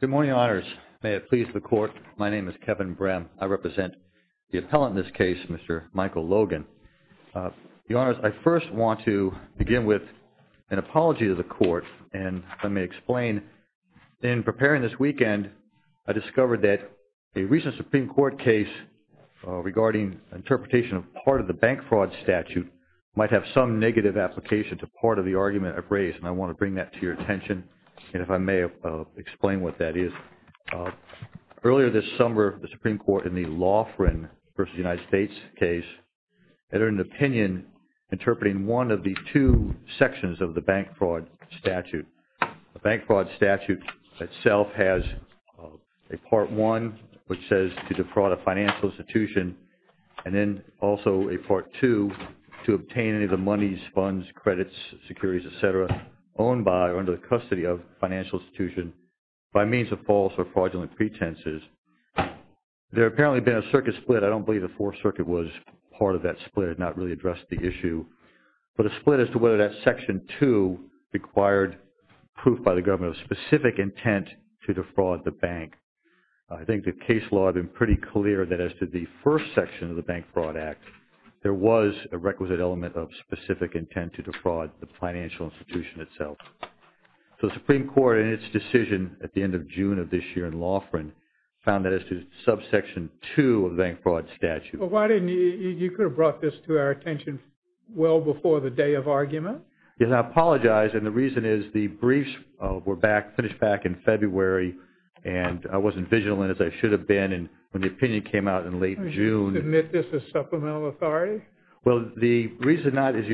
Good morning, Your Honors. May it please the Court, my name is Kevin Brahm. I represent the appellant in this case, Mr. Michael Logan. Your Honors, I first want to begin with an apology to the Court, and let me explain. In preparing this weekend, I discovered that a recent Supreme Court case regarding interpretation of part of the bank fraud statute might have some negative application to part of the argument I've raised, and I want to bring that to your attention, and if I may explain what that is. Earlier this summer, the Supreme Court in the Laughrin v. United States case entered an opinion interpreting one of the two sections of the bank fraud statute. The bank fraud statute itself has a Part 1, which says to money, funds, credits, securities, etc. owned by or under the custody of a financial institution by means of false or fraudulent pretenses. There apparently has been a circuit split. I don't believe the Fourth Circuit was part of that split. It did not really address the issue, but a split as to whether that Section 2 required proof by the government of specific intent to defraud the bank. I think the case law had been pretty clear that as to the first section of the Bank Fraud Act, there was a requisite element of specific intent to defraud the financial institution itself. So the Supreme Court in its decision at the end of June of this year in Laughrin found that as to Subsection 2 of the Bank Fraud Statute. Well, why didn't you, you could have brought this to our attention well before the day of argument. Yes, I apologize, and the reason is the briefs were back, finished back in February, and I wasn't vigilant as I should have been, and when the opinion came out in late June. Did you submit this to Supplemental Authority? Well, the reason not is,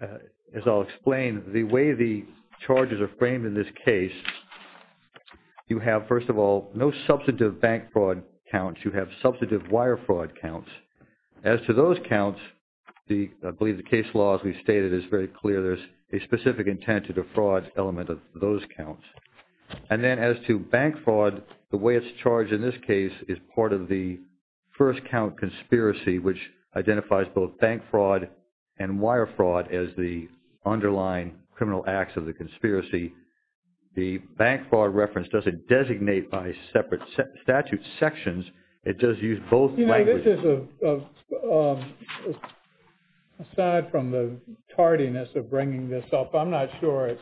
as I'll explain, the way the charges are framed in this case, you have, first of all, no substantive bank fraud counts. You have substantive wire fraud counts. As to those counts, I believe the case law, as we stated, is very clear. There's a specific intent to defraud element of those counts. And then as to bank fraud, the way this charge in this case is part of the first count conspiracy, which identifies both bank fraud and wire fraud as the underlying criminal acts of the conspiracy, the bank fraud reference doesn't designate by separate statute sections. It does use both languages. You know, this is a, aside from the tardiness of bringing this up, I'm not sure it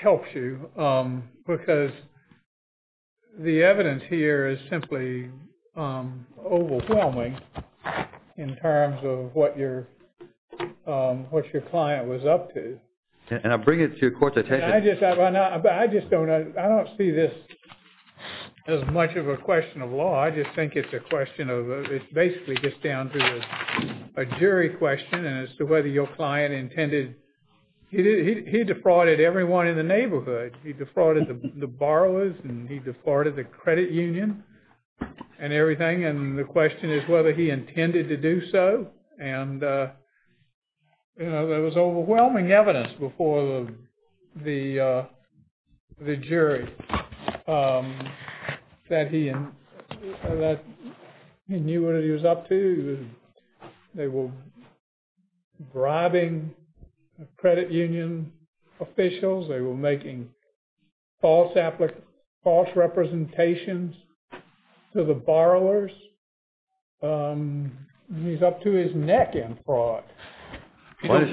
helps you, because the evidence here is simply overwhelming in terms of what your client was up to. And I bring it to your court's attention. I just don't, I don't see this as much of a question of law. I just think it's a question of, it's basically just down to a jury question as to whether your client intended, he defrauded everyone in the neighborhood. He defrauded the borrowers and he defrauded the credit union and everything. And the question is whether he intended to do so. And, you know, there was overwhelming evidence before the jury that he knew what he was up to. They were bribing credit union officials. They were making false representations to the borrowers. And he's up to his neck in fraud. You don't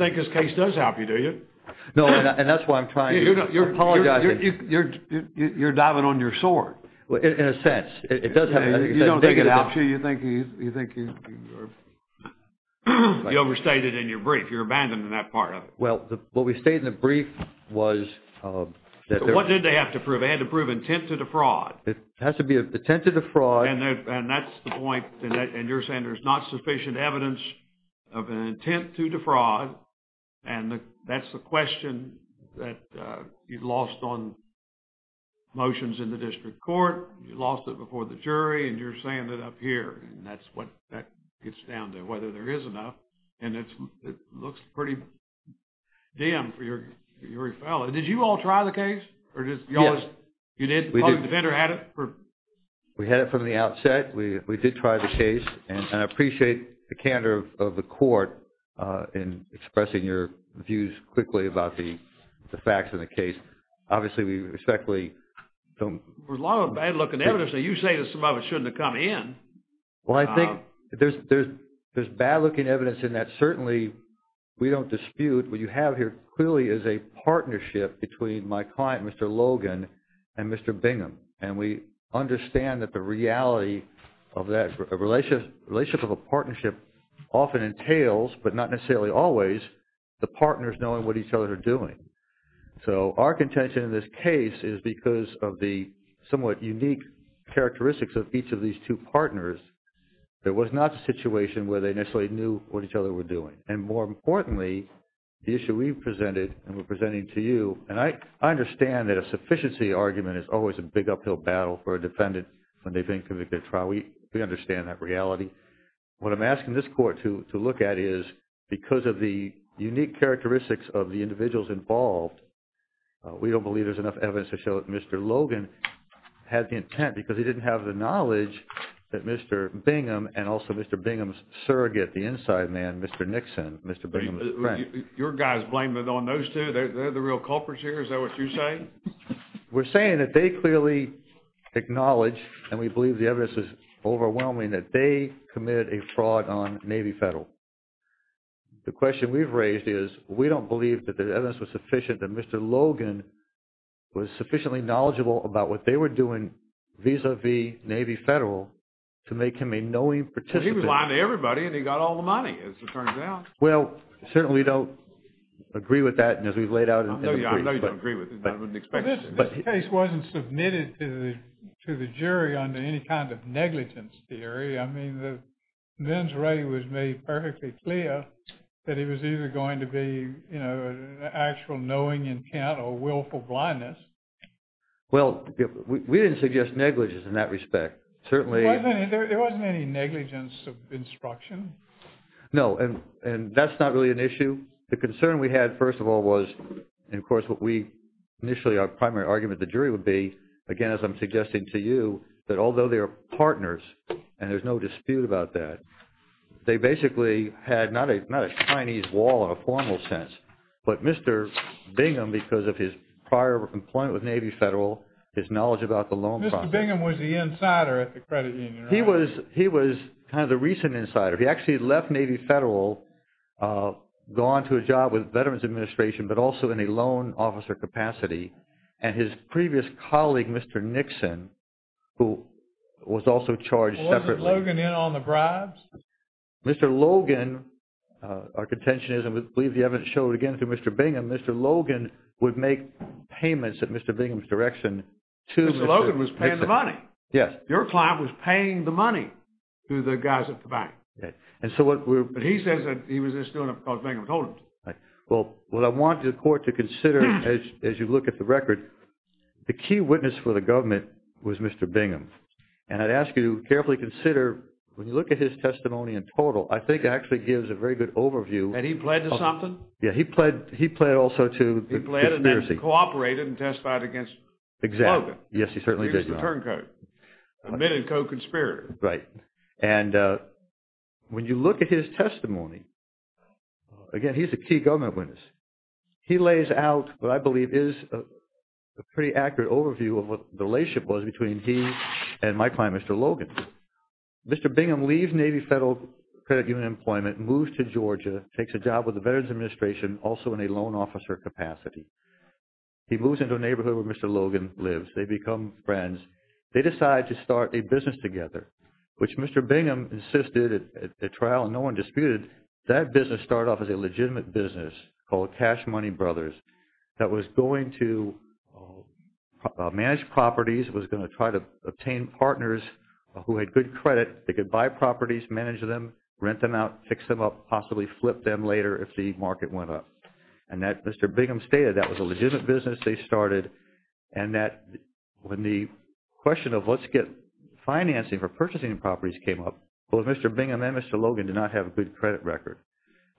think this case does help you, do you? No, and that's why I'm trying to apologize. You're diving on your sword. Well, in a sense, it does help. You don't think it helps you? You think you're... You overstated in your brief. You're abandoning that part of it. Well, what we stated in the brief was... What did they have to prove? They had to prove intent to defraud. It has to be intent to defraud. And that's the point. And you're saying there's not sufficient evidence of an intent to defraud. And that's the question that you lost on motions in the district court. You lost it before the jury. And you're saying that up here. And that's what that gets down to, whether there is enough. And it looks pretty dim for your fellow. Did you all try the case? Yes. You did? The public defender had it? We had it from the outset. We did try the case. And I appreciate the candor of the court in expressing your views quickly about the facts of the case. Obviously, we respectfully don't... There's a lot of bad-looking evidence. And you say that some of it shouldn't have come in. Well, I think there's bad-looking evidence in that. Certainly, we don't dispute. What you have here clearly is a partnership between my client, Mr. Logan, and Mr. Bingham. And we understand that the reality of that relationship of a partnership often entails, but not necessarily always, the partners knowing what each other are doing. So, our contention in this case is because of the somewhat unique characteristics of each of these two partners. There was not a situation where they necessarily knew what each other were doing. And more importantly, the issue we've presented and we're presenting to you... I think that a sufficiency argument is always a big uphill battle for a defendant when they've been convicted of a trial. We understand that reality. What I'm asking this court to look at is because of the unique characteristics of the individuals involved, we don't believe there's enough evidence to show that Mr. Logan had the intent because he didn't have the knowledge that Mr. Bingham and also Mr. Bingham's surrogate, the inside man, Mr. Nixon, Mr. Bingham's friend... We're saying that they clearly acknowledge and we believe the evidence is overwhelming that they committed a fraud on Navy Federal. The question we've raised is we don't believe that the evidence was sufficient that Mr. Logan was sufficiently knowledgeable about what they were doing vis-a-vis Navy Federal to make him a knowing participant. He was lying to everybody and he got all the money as it turns out. Well, certainly we don't agree with that and as we've laid out... I know you don't agree with it, but I wouldn't expect... This case wasn't submitted to the jury under any kind of negligence theory. I mean, the mens rea was made perfectly clear that he was either going to be an actual knowing intent or willful blindness. Well, we didn't suggest negligence in that respect. Certainly... There wasn't any negligence of instruction. No, and that's not really an issue. The concern we had, first of all, was... And, of course, what we initially... Our primary argument, the jury would be, again, as I'm suggesting to you, that although they are partners and there's no dispute about that, they basically had not a Chinese wall in a formal sense, but Mr. Bingham, because of his prior employment with Navy Federal, his knowledge about the loan process... Mr. Bingham was the insider at the credit union, right? He was kind of the recent insider. He actually left Navy Federal, gone to a job with Veterans Administration, but also in a loan officer capacity, and his previous colleague, Mr. Nixon, who was also charged separately... Wasn't Logan in on the bribes? Mr. Logan, our contention is, and we believe the evidence showed again to Mr. Bingham, Mr. Logan would make payments at Mr. Bingham's direction to... Mr. Logan was paying the money. Yes. Your client was paying the money to the guys at the bank. But he says that he was just doing it because Bingham told him to. Well, what I want the court to consider, as you look at the record, the key witness for the government was Mr. Bingham. And I'd ask you to carefully consider, when you look at his testimony in total, I think it actually gives a very good overview... And he pled to something? Yeah, he pled also to conspiracy. He pled and then cooperated and testified against Logan. Exactly. Yes, he certainly did. He's a turncoat. A men in coat conspirator. Right. And when you look at his testimony, again, he's a key government witness. He lays out what I believe is a pretty accurate overview of what the relationship was between he and my client, Mr. Logan. Mr. Bingham leaves Navy Federal Credit Union employment, moves to Georgia, takes a job with the Veterans Administration, also in a lone officer capacity. He moves into a neighborhood where Mr. Logan lives. They become friends. They decide to start a business together, which Mr. Bingham insisted at trial, and no one disputed, that business started off as a legitimate business called Cash Money Brothers that was going to manage properties, was going to try to obtain partners who had good credit. They could buy properties, manage them, rent them out, fix them up, possibly flip them later if the market went up. And Mr. Bingham stated that was a legitimate business that they started and that when the question of let's get financing for purchasing properties came up, both Mr. Bingham and Mr. Logan did not have a good credit record.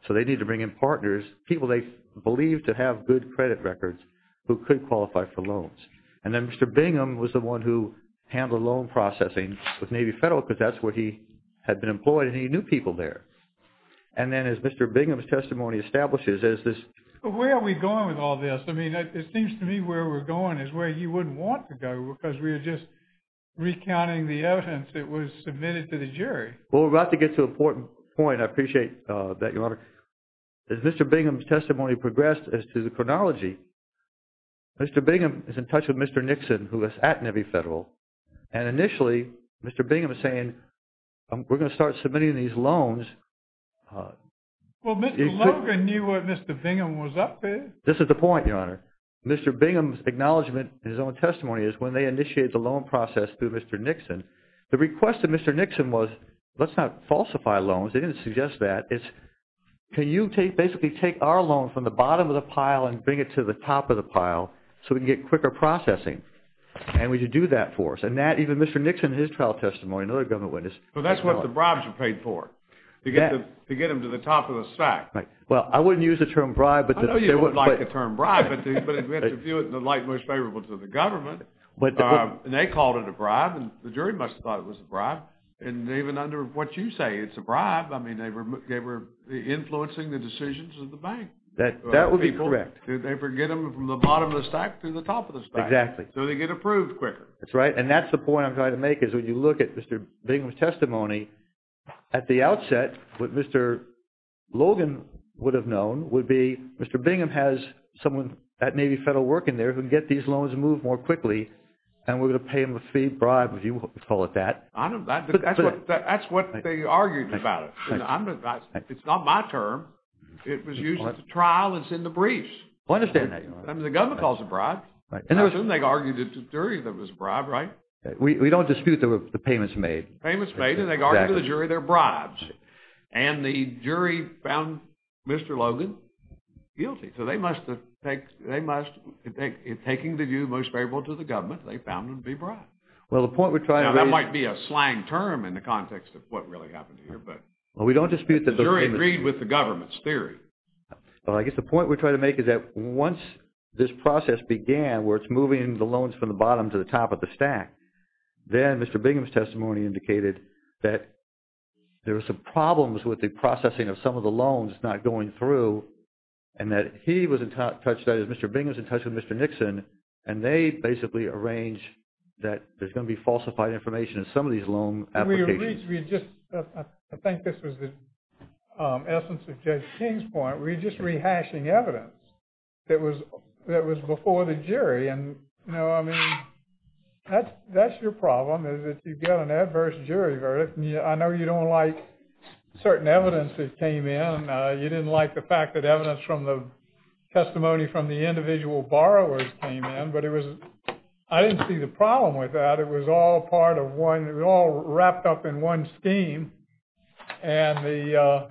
So they needed to bring in partners, people they believed to have good credit records, who could qualify for loans. And then Mr. Bingham was the one who handled loan processing with Navy Federal because that's where he had been employed and he knew people there. And then as Mr. Bingham's testimony establishes, as this... Where are we going with all this? I mean, it seems to me where we're going is where you wouldn't want to go because we're just recounting the evidence that was submitted to the jury. Well, we're about to get to an important point. I appreciate that, Your Honor. As Mr. Bingham's testimony progressed as to the chronology, Mr. Bingham is in touch with Mr. Nixon who is at Navy Federal. And initially, Mr. Bingham is saying we're going to start submitting these loans. Well, Mr. Logan knew what Mr. Bingham was up to. This is the point, Your Honor. Mr. Bingham's acknowledgment in his own testimony is when they initiated the loan process through Mr. Nixon, the request of Mr. Nixon was, let's not falsify loans. They didn't suggest that. It's, can you basically take our loan from the bottom of the pile and bring it to the top of the pile so we can get quicker processing? And would you do that for us? And that, even Mr. Nixon in his trial testimony and other government witnesses... But that's what the bribes were paid for. To get them to the top of the stack. Right. Well, I wouldn't use the term bribe, but... I know you wouldn't like the term bribe, but we have to view it in the light most favorable to the government. And they called it a bribe, and the jury must have thought it was a bribe. And even under what you say, it's a bribe. I mean, they were influencing the decisions of the bank. That would be correct. Did they ever get them from the bottom of the stack to the top of the stack? Exactly. So they get approved quicker. That's right. And that's the point I'm trying to make is when you look at Mr. Bingham's testimony, at the outset, what Mr. Logan would have known would be Mr. Bingham has someone at Navy Federal working there who can get these loans moved more quickly, and we're going to pay him a fee bribe, if you want to call it that. I don't... That's what they argued about it. I'm not... It's not my term. It was used at the trial. It's in the briefs. I understand that, Your Honor. I mean, the government calls it a bribe. And they argued it's a jury that was a bribe, right? We don't dispute the payments made. Payments made, and they argued to the jury they're bribes. And the jury found Mr. Logan guilty. So they must have... They must... Taking the view most favorable to the government, they found him to be bribed. Well, the point we're trying to make... Now, that might be a slang term in the context of what really happened here, but... Well, we don't dispute that... The jury agreed with the government's theory. Well, I guess the point we're trying to make is that once this process began where it's moving the loans from the bottom to the top of the stack, then Mr. Bingham's testimony indicated that there were some problems with the processing of some of the loans that's not going through and that he was in touch... Mr. Bingham was in touch with Mr. Nixon and they basically arranged that there's going to be falsified information in some of these loan applications. We just... I think this was the essence of Judge King's point. We're just rehashing evidence that was before the jury. And, you know, I mean, that's your problem is that you get an adverse jury verdict. I know you don't like certain evidence that came in. You didn't like the fact that evidence from the testimony from the individual borrowers came in, but it was... I didn't see the problem with that. It was all part of one... It was all wrapped up in one scheme and the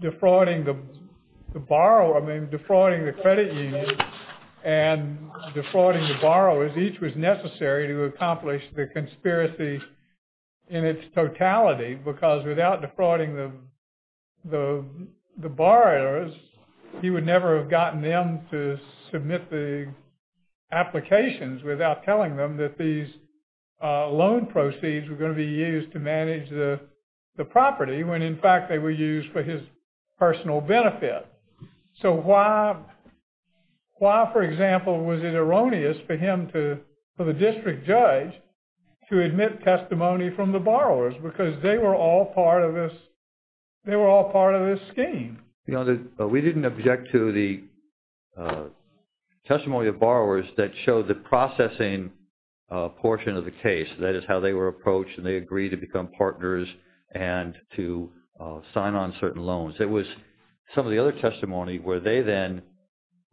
defrauding the borrow... I mean, defrauding the credit union and defrauding the borrowers, each was necessary to accomplish the conspiracy in its totality because without defrauding the borrowers, he would never have gotten them to submit the applications without telling them that these loan proceeds were going to be used to manage the property when, in fact, they were used for his personal benefit. So why, for example, was it erroneous for him to... for the district judge to admit testimony from the borrowers because they were all part of this... they were all part of this scheme? You know, we didn't object to the testimony of borrowers that showed the processing portion of the case, that is, how they were approached and they agreed to become partners and to sign on certain loans. It was some of the other testimony where they then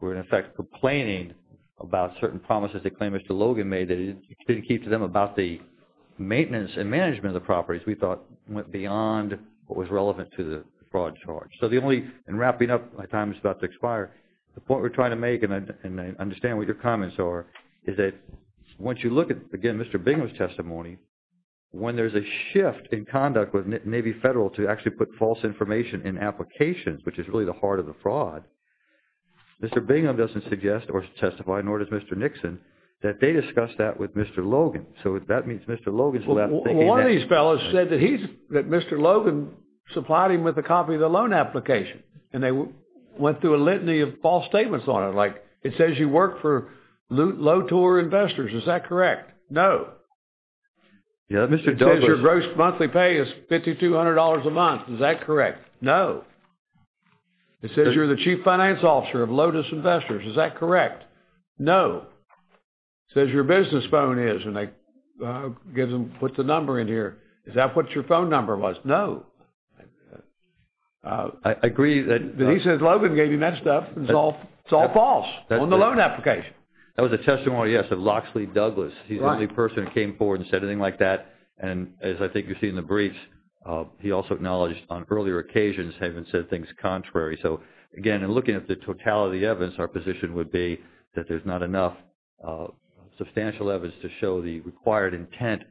were, in effect, complaining about certain promises they claim Mr. Logan made that he didn't keep to them about the maintenance and management of the properties we thought went beyond what was relevant to the fraud charge. So the only... and wrapping up, my time is about to expire. The point we're trying to make and I understand what your comments are is that once you look at, again, Mr. Bingham's testimony, when there's a shift in conduct with Navy Federal to actually put false information in applications, which is really the heart of the fraud, Mr. Bingham doesn't suggest or testify, nor does Mr. Nixon, that they discussed that with Mr. Logan. So that means Mr. Logan's left thinking is that these fellas said that he's... that Mr. Logan supplied him with a copy of the loan application and they went through a litany of false statements on it. Like, it says you work for Lotor Investors. Is that correct? No. It says your gross monthly pay is $5,200 a month. Is that correct? No. It says you're the chief finance officer of Lotus Investors. Is that correct? No. It says your business phone is and they give them... Is that what your phone number was? No. I agree that... He says Logan gave him that stuff and it's all false on the loan application. That was a testimony, yes, of Locksley Douglas. He's the only person who came forward and said anything like that and as I think you see in the briefs, he also acknowledged on earlier occasions having said things contrary. So, again, in looking at the totality of the evidence, our position would be that there's not enough substantial evidence to show the required intent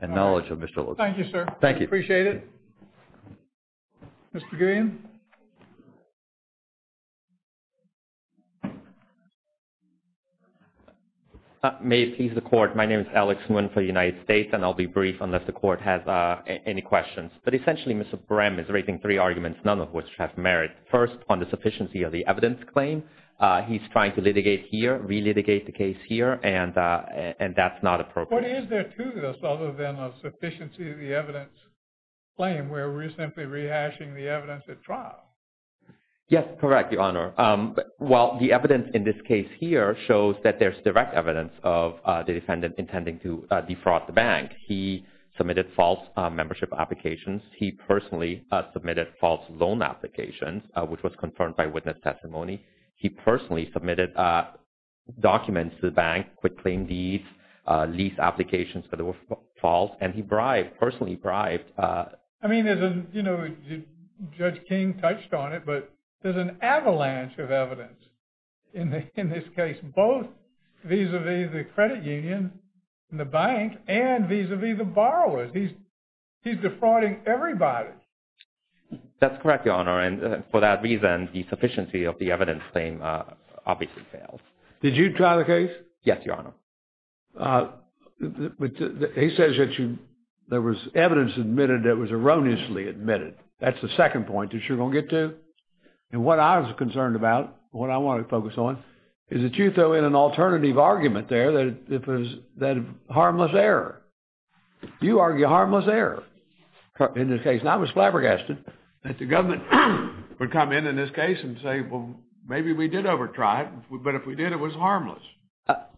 and knowledge of Mr. Logan. Thank you, sir. Thank you. Appreciate it. Mr. Gillian? May it please the court. My name is Alex Nguyen for the United States and I'll be brief unless the court has any questions. But essentially, Mr. Brehm is raising three arguments, none of which have merit. First, on the sufficiency of the evidence claim. He's trying to litigate here, re-litigate the case here and that's not appropriate. But is there to this other than a sufficiency of the evidence claim where we're simply rehashing the evidence at trial? Yes, correct, Your Honor. Well, the evidence in this case here shows that there's direct evidence of the defendant intending to defraud the bank. He submitted false membership applications. He personally submitted false loan applications, which was confirmed by witness testimony. He personally submitted documents to the bank, quick claim deeds, lease applications that were false and he bribed, personally bribed. I mean, there's a, you know, Judge King touched on it, but there's an avalanche of evidence in this case, both vis-a-vis the credit union and the bank and vis-a-vis the borrowers. He's defrauding everybody. That's correct, Your Honor. And for that reason, the sufficiency of the evidence claim obviously fails. Did you try the case? Yes, Your Honor. But he says that you, there was evidence admitted that was erroneously admitted. That's the second point that you're going to get to. And what I was concerned about, what I want to focus on, is that you throw in an alternative argument there that it was harmless error. You argue harmless error in this case. And I was flabbergasted that the government would come in in this case and say, well, maybe we did overtry it, but if we did, it was harmless.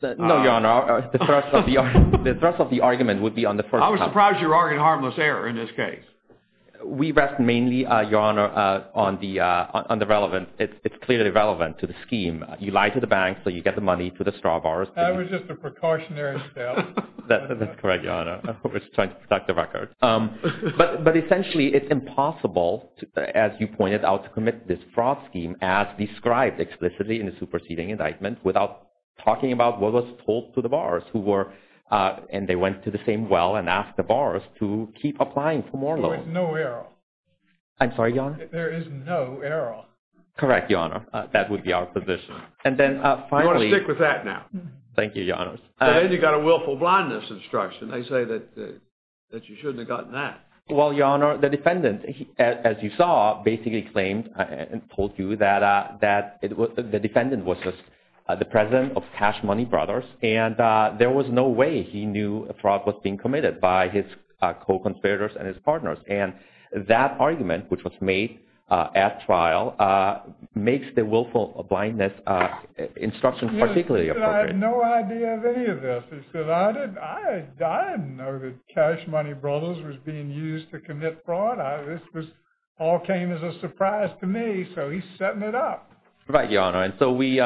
No, Your Honor. The thrust of the argument would be on the first... I was surprised you argued harmless error in this case. We rest mainly, Your Honor, on the relevance. It's clearly relevant to the scheme. You lie to the bank so you get the money to the straw borrowers. That was just a precautionary step. That's correct, Your Honor. I was trying to protect the record. But essentially, it's impossible, as you pointed out, to commit this fraud scheme as described explicitly in the superseding indictment without talking about what was told to the borrowers who were... And they went to the same well and asked the borrowers to keep applying for more loans. There is no error. I'm sorry, Your Honor? There is no error. Correct, Your Honor. That would be our position. And then, finally... You want to stick with that now? Thank you, Your Honor. You got a willful blindness instruction. They say that you shouldn't have gotten that. Well, Your Honor, the defendant, as you saw, basically claimed and told you that the defendant was the president of Cash Money Brothers and there was no way he knew fraud was being committed by his co-conspirators and his partners. And that argument, which was made at trial, makes the willful blindness instruction particularly appropriate. He said, I had no idea of any of this. He said, I didn't know that Cash Money Brothers to commit fraud. This all came as a surprise to me, so he's setting it up. Right, Your Honor. And so, we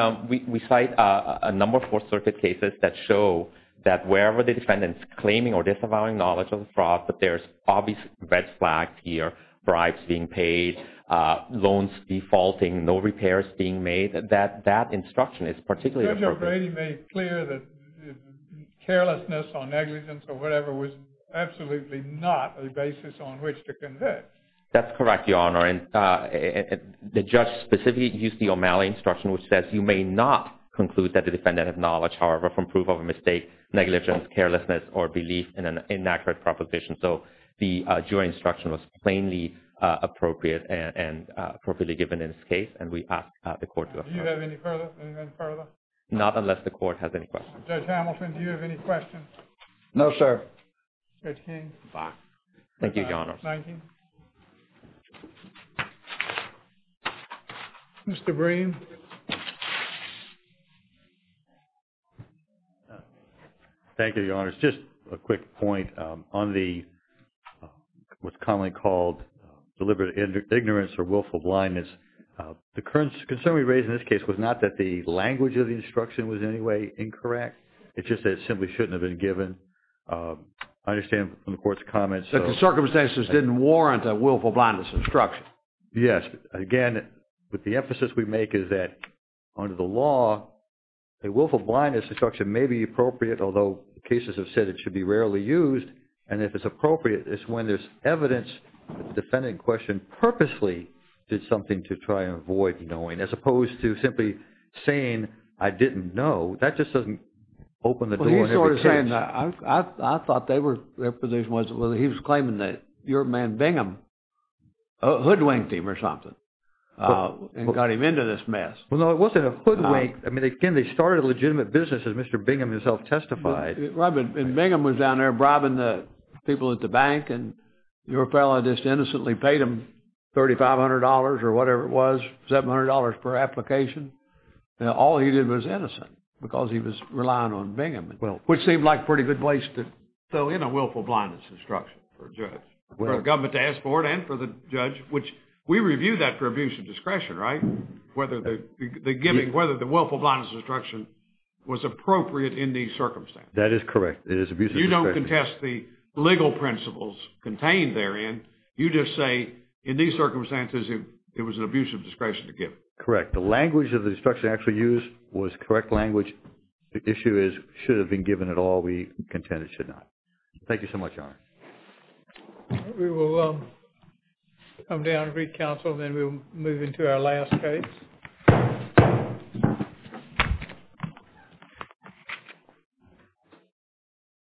cite a lot of evidence from a number of Fourth Circuit cases that show that wherever the defendant's claiming or disavowing knowledge of the fraud, that there's obvious red flags here, bribes being paid, loans defaulting, no repairs being made, that that instruction is particularly appropriate. Judge O'Brady made clear that carelessness or negligence or whatever was absolutely not a basis on which to convict. That's correct, Your Honor. And the judge specifically used the O'Malley instruction which says, you may not conclude that the defendant has knowledge, however, from proof of a mistake, negligence, carelessness, or belief in an inaccurate proposition. So, the jury instruction was plainly appropriate and appropriately given in this case and we ask the court to approve it. Do you have any further? Anything further? Not unless the court has any questions. Judge Hamilton, do you have any questions? No, sir. Judge King. Thank you, Your Honor. Thank you. Mr. Breen. Thank you, Your Honor. It's just a quick point on the what's commonly called deliberate ignorance or willful blindness. The concern we raised in this case was not that the language of the instruction was in any way incorrect. It's just that it simply shouldn't have been given. I understand from the court's comments. The circumstances didn't warrant a willful blindness instruction. Yes. Again, with the emphasis we make is that under the law a willful blindness instruction may be appropriate although cases have said it should be rarely used and if it's appropriate it's when there's evidence the defendant in question purposely did something to try and avoid knowing as opposed to simply saying I didn't know. That just doesn't open the door in every case. He's sort of saying I thought their position was he was claiming that your man Bingham hoodwinked him or something and got him into this mess. No, it wasn't a hoodwink. Again, they started a legitimate business as Mr. Bingham himself testified. Bingham was down there bribing the people at the bank and your fellow just innocently paid him $3,500 or whatever it was $700 per application and all he did was innocent because he was relying on Bingham which seemed like a pretty good place to fill in a willful blindness instruction for a judge for a government task force and for the judge which we review that for abuse of discretion. Right? Whether the giving whether the willful blindness instruction was appropriate in these circumstances. That is correct. It is abusive. You don't contest the legal principles contained therein. You just say in these circumstances it was an abuse of discretion to give. The language of the instruction actually used was correct language. The issue is should have been given at all. We contend it should not. Thank you so much, Your Honor. We will come down to the recovery council and then we will move into our last case.